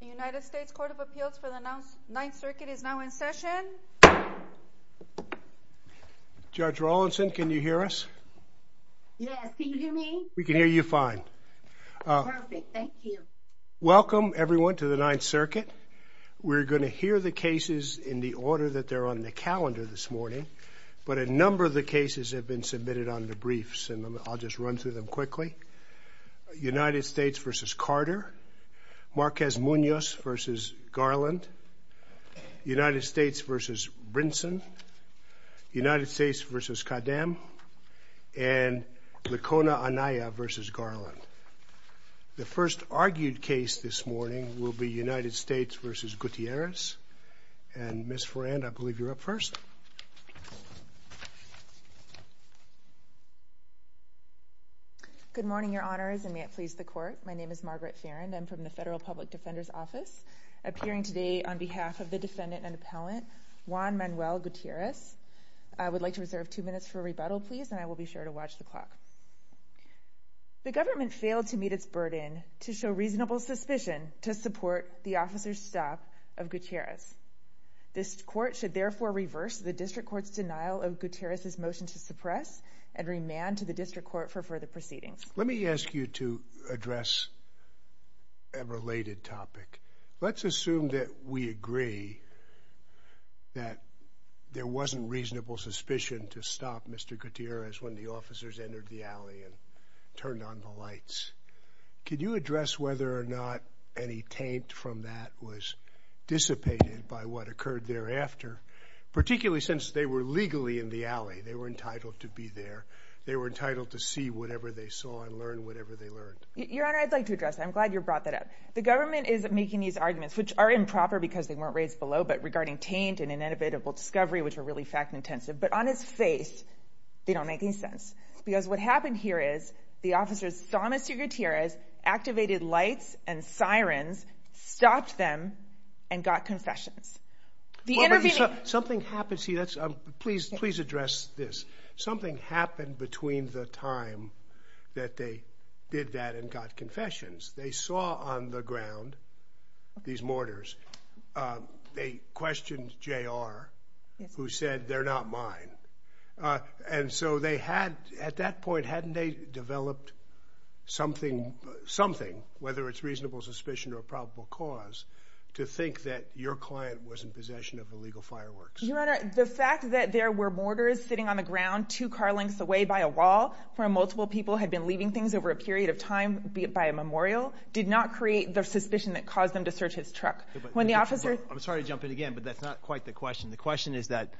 The United States Court of Appeals for the Ninth Circuit is now in session. Judge Rawlinson can you hear us? We can hear you fine. Welcome everyone to the Ninth Circuit. We're going to hear the cases in the order that they're on the calendar this morning, but a number of the cases have been submitted on the briefs and I'll just run through them quickly. United States v. Carter, Marquez Munoz v. Garland, United States v. Brinson, United States v. Khadem, and Licona Anaya v. Garland. The first argued case this morning will be United States v. Gutierrez and Ms. Ferrand, I believe you're up first. Good morning your honors and may it please the court. My name is Margaret Ferrand. I'm from the Federal Public Defender's Office, appearing today on behalf of the defendant and appellant Juan Manuel Gutierrez. I would like to reserve two minutes for rebuttal please and I will be sure to watch the clock. The government failed to meet its burden to show reasonable suspicion to support the officer's stop of Gutierrez. This court should therefore reverse the District Court's denial of Gutierrez's motion to suppress and remand to the District Court for further proceedings. Let me ask you to address a related topic. Let's assume that we agree that there wasn't reasonable suspicion to stop Mr. Gutierrez when the officers entered the alley and turned on the lights. Could you address whether or not any taint from that was dissipated by what occurred thereafter, particularly since they were legally in the alley, they were entitled to be there, they were entitled to see whatever they saw and learn whatever they learned? Your honor, I'd like to address. I'm glad you brought that up. The government is making these arguments which are improper because they weren't raised below but regarding taint and an inevitable discovery which were really fact-intensive but on its face they don't make any sense because what happened here is the officers saw Mr. Gutierrez, activated lights and sirens, stopped them and got confessions. The interview... Something happened, see that's please address this. Something happened between the time that they did that and got confessions. They saw on the ground these mortars. They questioned JR who said they're not mine and so they had at that point hadn't they developed something whether it's reasonable suspicion or a probable cause to think that your client was in possession of illegal fireworks? Your honor, the fact that there were mortars sitting on the ground two car lengths away by a wall where multiple people had been leaving things over a period of time by a memorial did not create the suspicion that caused them to search his truck. When the officer... I'm sorry to jump in again but that's not quite the question. The question is that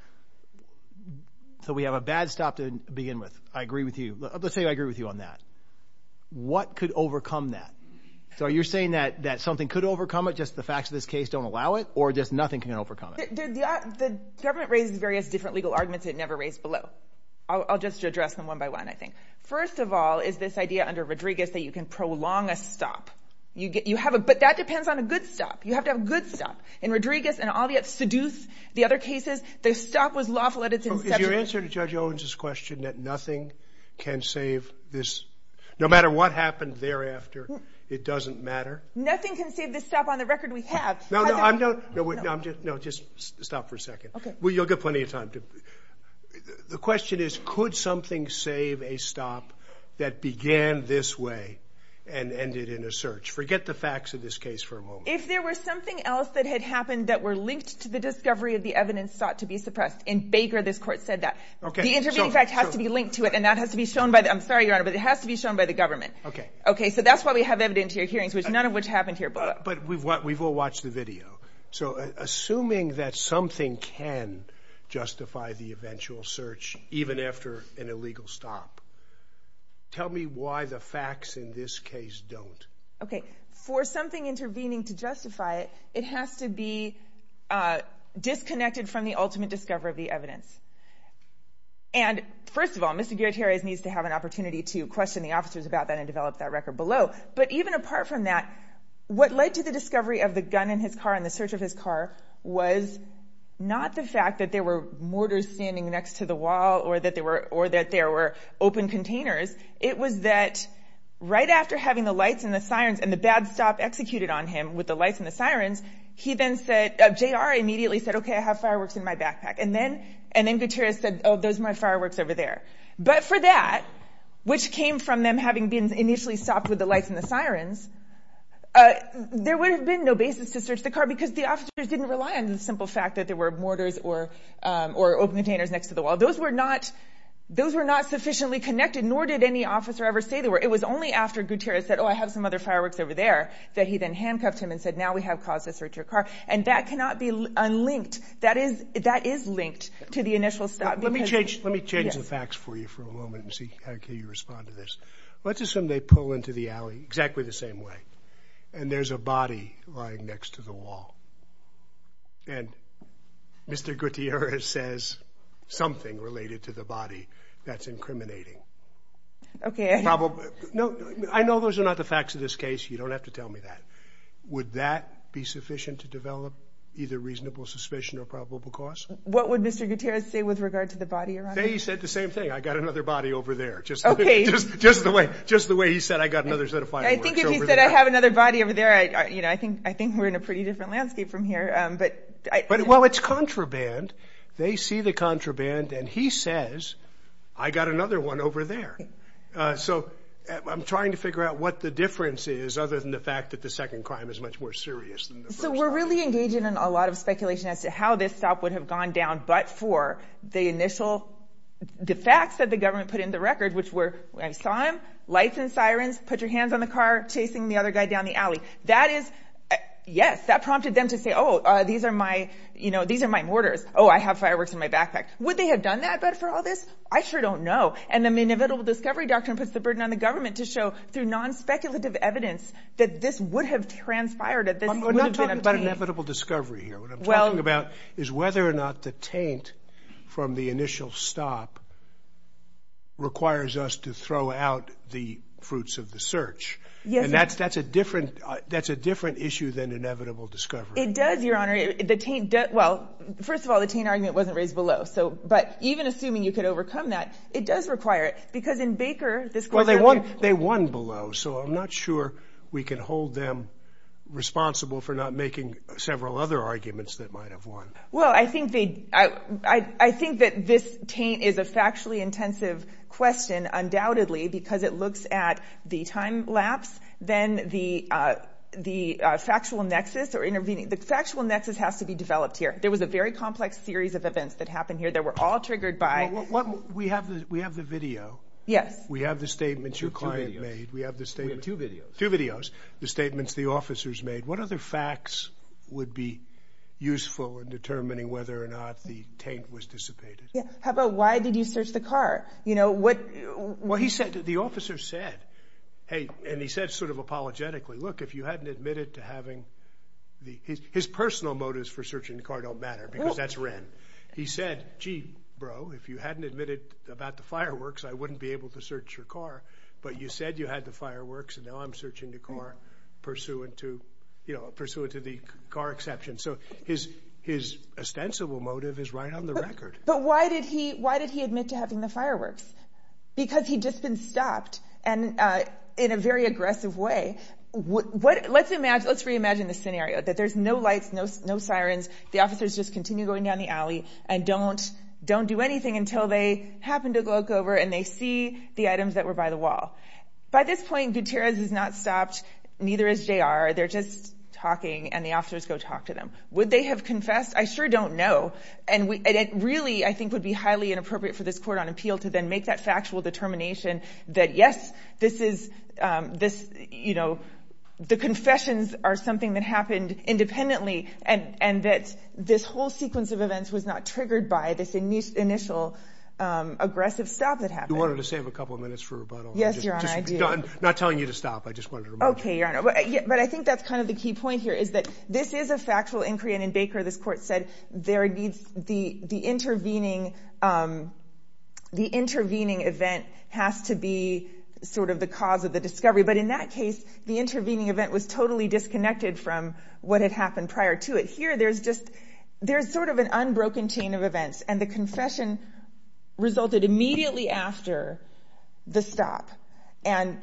so we have a bad stop to begin with. I agree with you. Let's say I agree with you on that. What could overcome that? So you're saying that that something could overcome it just the facts of this case don't allow it or just nothing can overcome it? The government raises various different legal arguments it never raised below. I'll just address them one by one I think. First of all is this idea under Rodriguez that you can prolong a stop. You get you have a but that depends on a good stop. You have to have a good stop. In Rodriguez and all the other cases the stop was lawful at its inception. Is your answer to Judge Owens's question that nothing can save this no matter what happened thereafter it doesn't matter? Nothing can save this stop on the no wait no I'm just no just stop for a second okay well you'll get plenty of time to the question is could something save a stop that began this way and ended in a search forget the facts of this case for a moment. If there was something else that had happened that were linked to the discovery of the evidence sought to be suppressed in Baker this court said that okay the intervening fact has to be linked to it and that has to be shown by the I'm sorry your honor but it has to be shown by the government okay okay so that's why we have evidence here hearings which none of which happened here but but we've what we've all watched the video so assuming that something can justify the eventual search even after an illegal stop tell me why the facts in this case don't. Okay for something intervening to justify it it has to be disconnected from the ultimate discovery of the evidence and first of all Mr. Gutierrez needs to have an opportunity to question the officers about that and what led to the discovery of the gun in his car in the search of his car was not the fact that there were mortars standing next to the wall or that they were or that there were open containers it was that right after having the lights and the sirens and the bad stop executed on him with the lights and the sirens he then said of J.R. immediately said okay I have fireworks in my backpack and then and then Gutierrez said oh there's my fireworks over there but for that which came from them having been initially stopped with the lights and the sirens there would have been no basis to search the car because the officers didn't rely on the simple fact that there were mortars or or open containers next to the wall those were not those were not sufficiently connected nor did any officer ever say they were it was only after Gutierrez said oh I have some other fireworks over there that he then handcuffed him and said now we have cause to search your car and that cannot be unlinked that is that is linked to the initial stop. Let me change let me change the facts for you for a exactly the same way and there's a body lying next to the wall and Mr. Gutierrez says something related to the body that's incriminating. Okay. No I know those are not the facts of this case you don't have to tell me that. Would that be sufficient to develop either reasonable suspicion or probable cause? What would Mr. Gutierrez say with regard to the body? He said the same thing I got another body over there just okay just just the way just the way he said I got another set of fireworks over there. I think if he said I have another body over there I you know I think I think we're in a pretty different landscape from here but I well it's contraband they see the contraband and he says I got another one over there so I'm trying to figure out what the difference is other than the fact that the second crime is much more serious. So we're really engaging in a lot of speculation as to how this stop would have gone down but for the initial the facts that the government put in the record which were I saw him lights and your hands on the car chasing the other guy down the alley that is yes that prompted them to say oh these are my you know these are my mortars oh I have fireworks in my backpack. Would they have done that but for all this? I sure don't know and the inevitable discovery doctrine puts the burden on the government to show through non-speculative evidence that this would have transpired. We're not talking about inevitable discovery here what I'm talking about is whether or not the taint from the initial stop requires us to throw out the fruits of the search yes that's that's a different that's a different issue than inevitable discovery. It does your honor the taint debt well first of all the taint argument wasn't raised below so but even assuming you could overcome that it does require it because in Baker this well they won they won below so I'm not sure we can hold them responsible for not making several other arguments that might have won. Well I think they I think that this taint is a factually intensive question undoubtedly because it looks at the time lapse then the the factual nexus or intervening the factual nexus has to be developed here there was a very complex series of events that happened here that were all triggered by what we have we have the video yes we have the statements your client made we have the statement two videos two videos the statements the officers made what other facts would be useful in determining whether or not the taint was dissipated yeah how about why did you search the car you know what what he said the officer said hey and he said sort of apologetically look if you hadn't admitted to having the his personal motives for searching the car don't matter because that's Wren he said gee bro if you hadn't admitted about the fireworks I wouldn't be able to search your car but you said you had the fireworks and now I'm searching the car pursuant to you know pursuant to the car exception so his his ostensible motive is right on the record but why did he why did he admit to having the fireworks because he just been stopped and in a very aggressive way what what let's imagine let's reimagine the scenario that there's no lights no no sirens the officers just continue going down the alley and don't don't do anything until they happen to look over and they see the items that were by the is JR they're just talking and the officers go talk to them would they have confessed I sure don't know and we really I think would be highly inappropriate for this court on appeal to then make that factual determination that yes this is this you know the confessions are something that happened independently and and that this whole sequence of events was not triggered by this initial aggressive stop that happened wanted to save a couple of not telling you to stop I just wonder okay yeah but I think that's kind of the key point here is that this is a factual inquiry and in Baker this court said there needs the the intervening the intervening event has to be sort of the cause of the discovery but in that case the intervening event was totally disconnected from what had happened prior to it here there's just there's sort of an unbroken chain of events and the confession resulted immediately after the stop and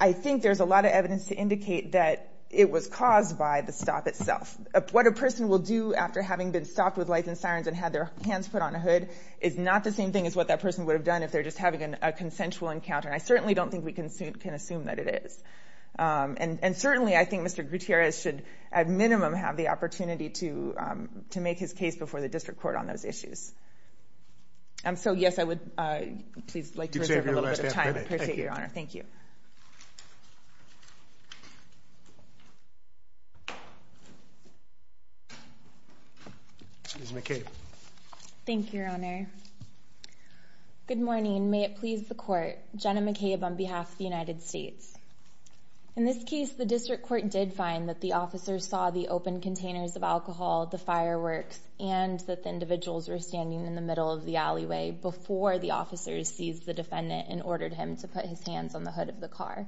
I think there's a lot of evidence to indicate that it was caused by the stop itself what a person will do after having been stopped with lights and sirens and had their hands put on a hood is not the same thing as what that person would have done if they're just having an a consensual encounter I certainly don't think we can suit can assume that it is and and certainly I think mr. Gutierrez should at minimum have the opportunity to to make his case before the district court on those issues I'm so yes I would thank you okay thank you your honor good morning may it please the court Jenna McCabe on behalf of the United States in this case the district court did find that the and that the individuals were standing in the middle of the alleyway before the officers seized the defendant and ordered him to put his hands on the hood of the car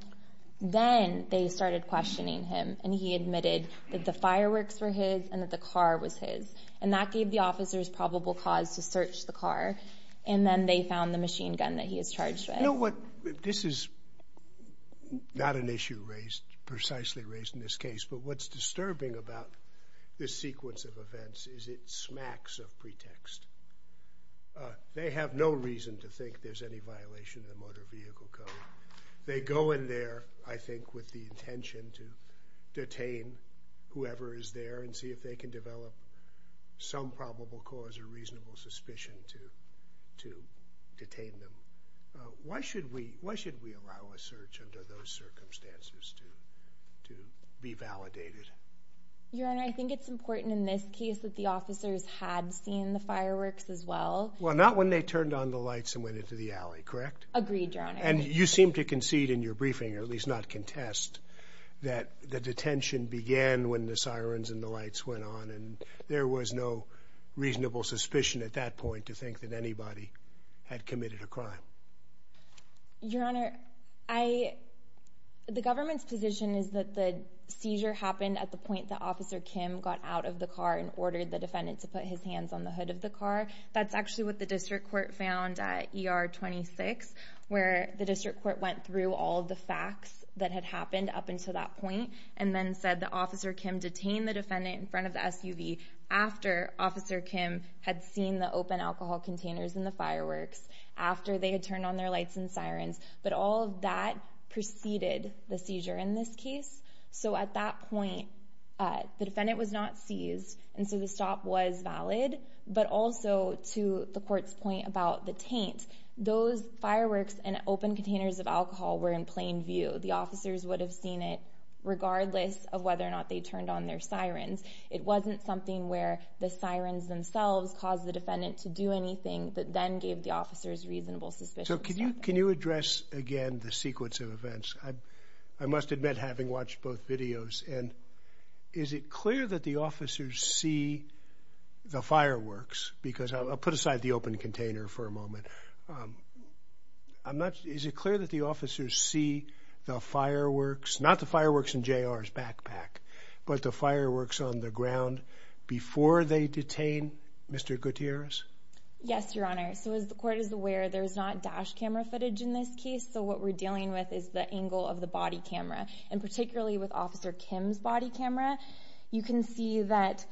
then they started questioning him and he admitted that the fireworks were his and that the car was his and that gave the officers probable cause to search the car and then they found the machine gun that he is charged with what this is not an issue raised precisely raised in this case but what's smacks of pretext they have no reason to think there's any violation of the motor vehicle code they go in there I think with the intention to detain whoever is there and see if they can develop some probable cause or reasonable suspicion to to detain them why should we why should we allow a search under those circumstances to to be validated your honor I think it's important in this case that the officers had seen the fireworks as well well not when they turned on the lights and went into the alley correct agreed and you seem to concede in your briefing or at least not contest that the detention began when the sirens and the lights went on and there was no reasonable suspicion at that point to think that anybody had committed a crime your honor I the government's position is that the seizure happened at the officer Kim got out of the car and ordered the defendant to put his hands on the hood of the car that's actually what the district court found at er 26 where the district court went through all the facts that had happened up until that point and then said the officer Kim detained the defendant in front of SUV after officer Kim had seen the open alcohol containers in the fireworks after they had turned on their lights and sirens but all of that preceded the case so at that point the defendant was not seized and so the stop was valid but also to the courts point about the taint those fireworks and open containers of alcohol were in plain view the officers would have seen it regardless of whether or not they turned on their sirens it wasn't something where the sirens themselves caused the defendant to do anything that then gave the officers reasonable suspicion so can you can you address again the sequence of events I must admit having watched both videos and is it clear that the officers see the fireworks because I'll put aside the open container for a moment I'm not is it clear that the officers see the fireworks not the fireworks in jr's backpack but the fireworks on the ground before they detain mr. Gutierrez yes your honor so as the court is aware there's not dash camera footage in this so what we're dealing with is the angle of the body camera and particularly with officer Kim's body camera you can see that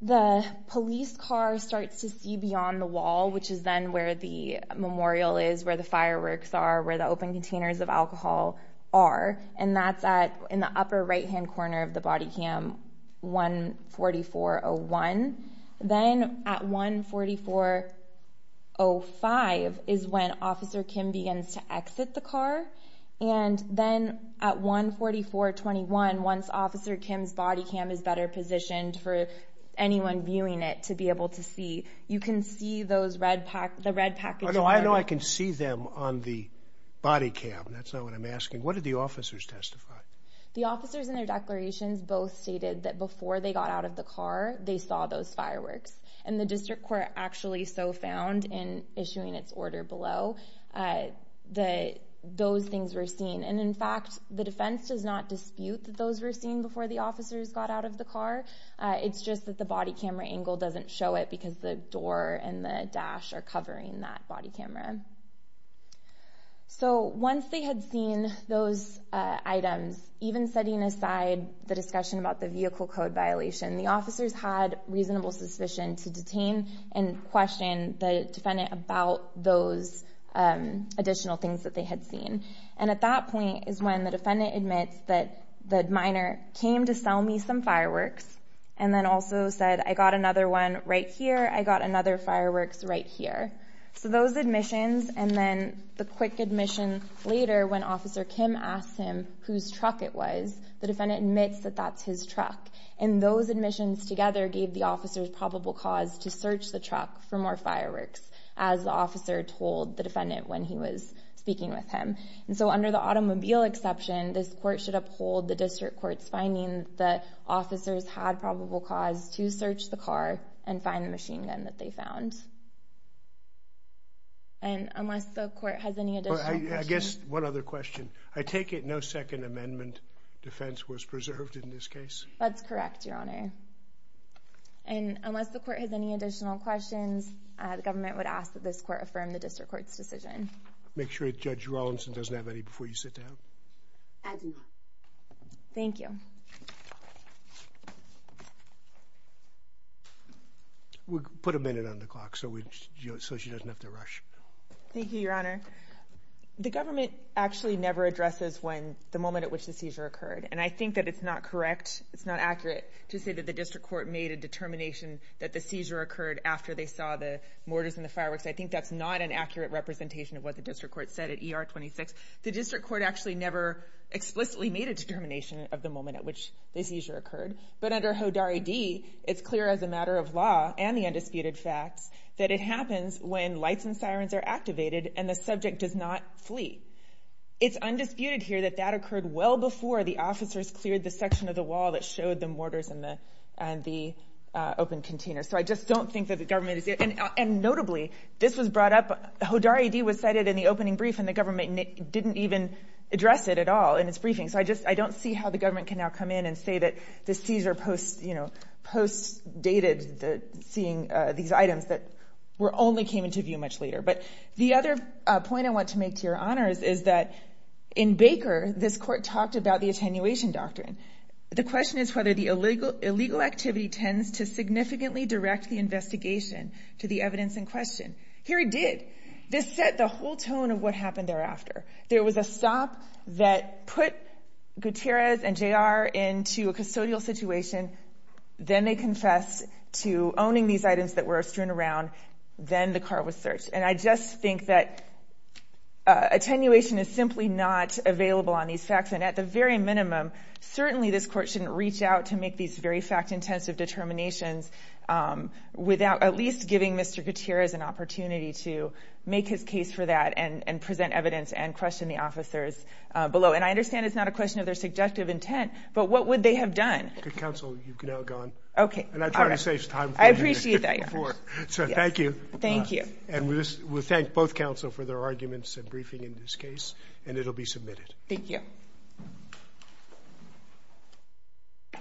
the police car starts to see beyond the wall which is then where the memorial is where the fireworks are where the open containers of alcohol are and that's at in the upper right hand corner of the body cam 14401 then at 14405 is when officer Kim begins to exit the car and then at 144 21 once officer Kim's body cam is better positioned for anyone viewing it to be able to see you can see those red pack the red package although I know I can see them on the body cam that's not what I'm asking what did the officers testify the officers in their declarations both stated that before they got out of the car they saw those fireworks and the those things were seen and in fact the defense does not dispute that those were seen before the officers got out of the car it's just that the body camera angle doesn't show it because the door and the dash are covering that body camera so once they had seen those items even setting aside the discussion about the vehicle code violation the officers had reasonable suspicion to detain and additional things that they had seen and at that point is when the defendant admits that minor came to sell me some fireworks and then also said I got another one right here I got another fireworks right here so those admissions and then the quick admission later when officer Kim asked him whose truck it was the defendant admits that that's his truck and those admissions together gave the officers probable cause to search the truck for more speaking with him and so under the automobile exception this court should uphold the district court's findings that officers had probable cause to search the car and find the machine gun that they found and unless the court has any additional I guess one other question I take it no second amendment defense was preserved in this case that's correct your honor and unless the court has any additional questions the government would ask that this court affirm the district court's decision make sure it judge Rawlinson doesn't have any before you sit down thank you we put a minute on the clock so we just so she doesn't have to rush thank you your honor the government actually never addresses when the moment at which the seizure occurred and I think that it's not correct it's not accurate to say that the district court made a determination that the seizure occurred after they saw the mortars and the fireworks I think that's not an accurate representation of what the district court said at er 26 the district court actually never explicitly made a determination of the moment at which the seizure occurred but under hodari D it's clear as a matter of law and the undisputed facts that it happens when lights and sirens are activated and the subject does not flee it's undisputed here that that occurred well before the officers cleared the section of the wall that showed the mortars in the and the open container so I just don't think that the government is it and and notably this was brought up hodari D was cited in the opening brief and the government didn't even address it at all and it's briefing so I just I don't see how the government can now come in and say that the seizure post you know post dated the seeing these items that were only came into view much later but the other point I want to make to your honors is that in Baker this court talked about the attenuation doctrine the question is whether the illegal illegal activity tends to significantly direct the investigation to the evidence in question here it did this set the whole tone of what happened thereafter there was a stop that put Gutierrez and JR into a custodial situation then they confessed to owning these items that were strewn around then the car was searched and I just think that attenuation is simply not available on these facts and at the very minimum certainly this court shouldn't reach out to make these very fact-intensive determinations without at least giving mr. Gutierrez an opportunity to make his case for that and and present evidence and question the officers below and I understand it's not a question of their subjective intent but what would they have done okay I appreciate that so thank you thank you and we thank both counsel for their arguments and briefing in this case and it'll be submitted thank you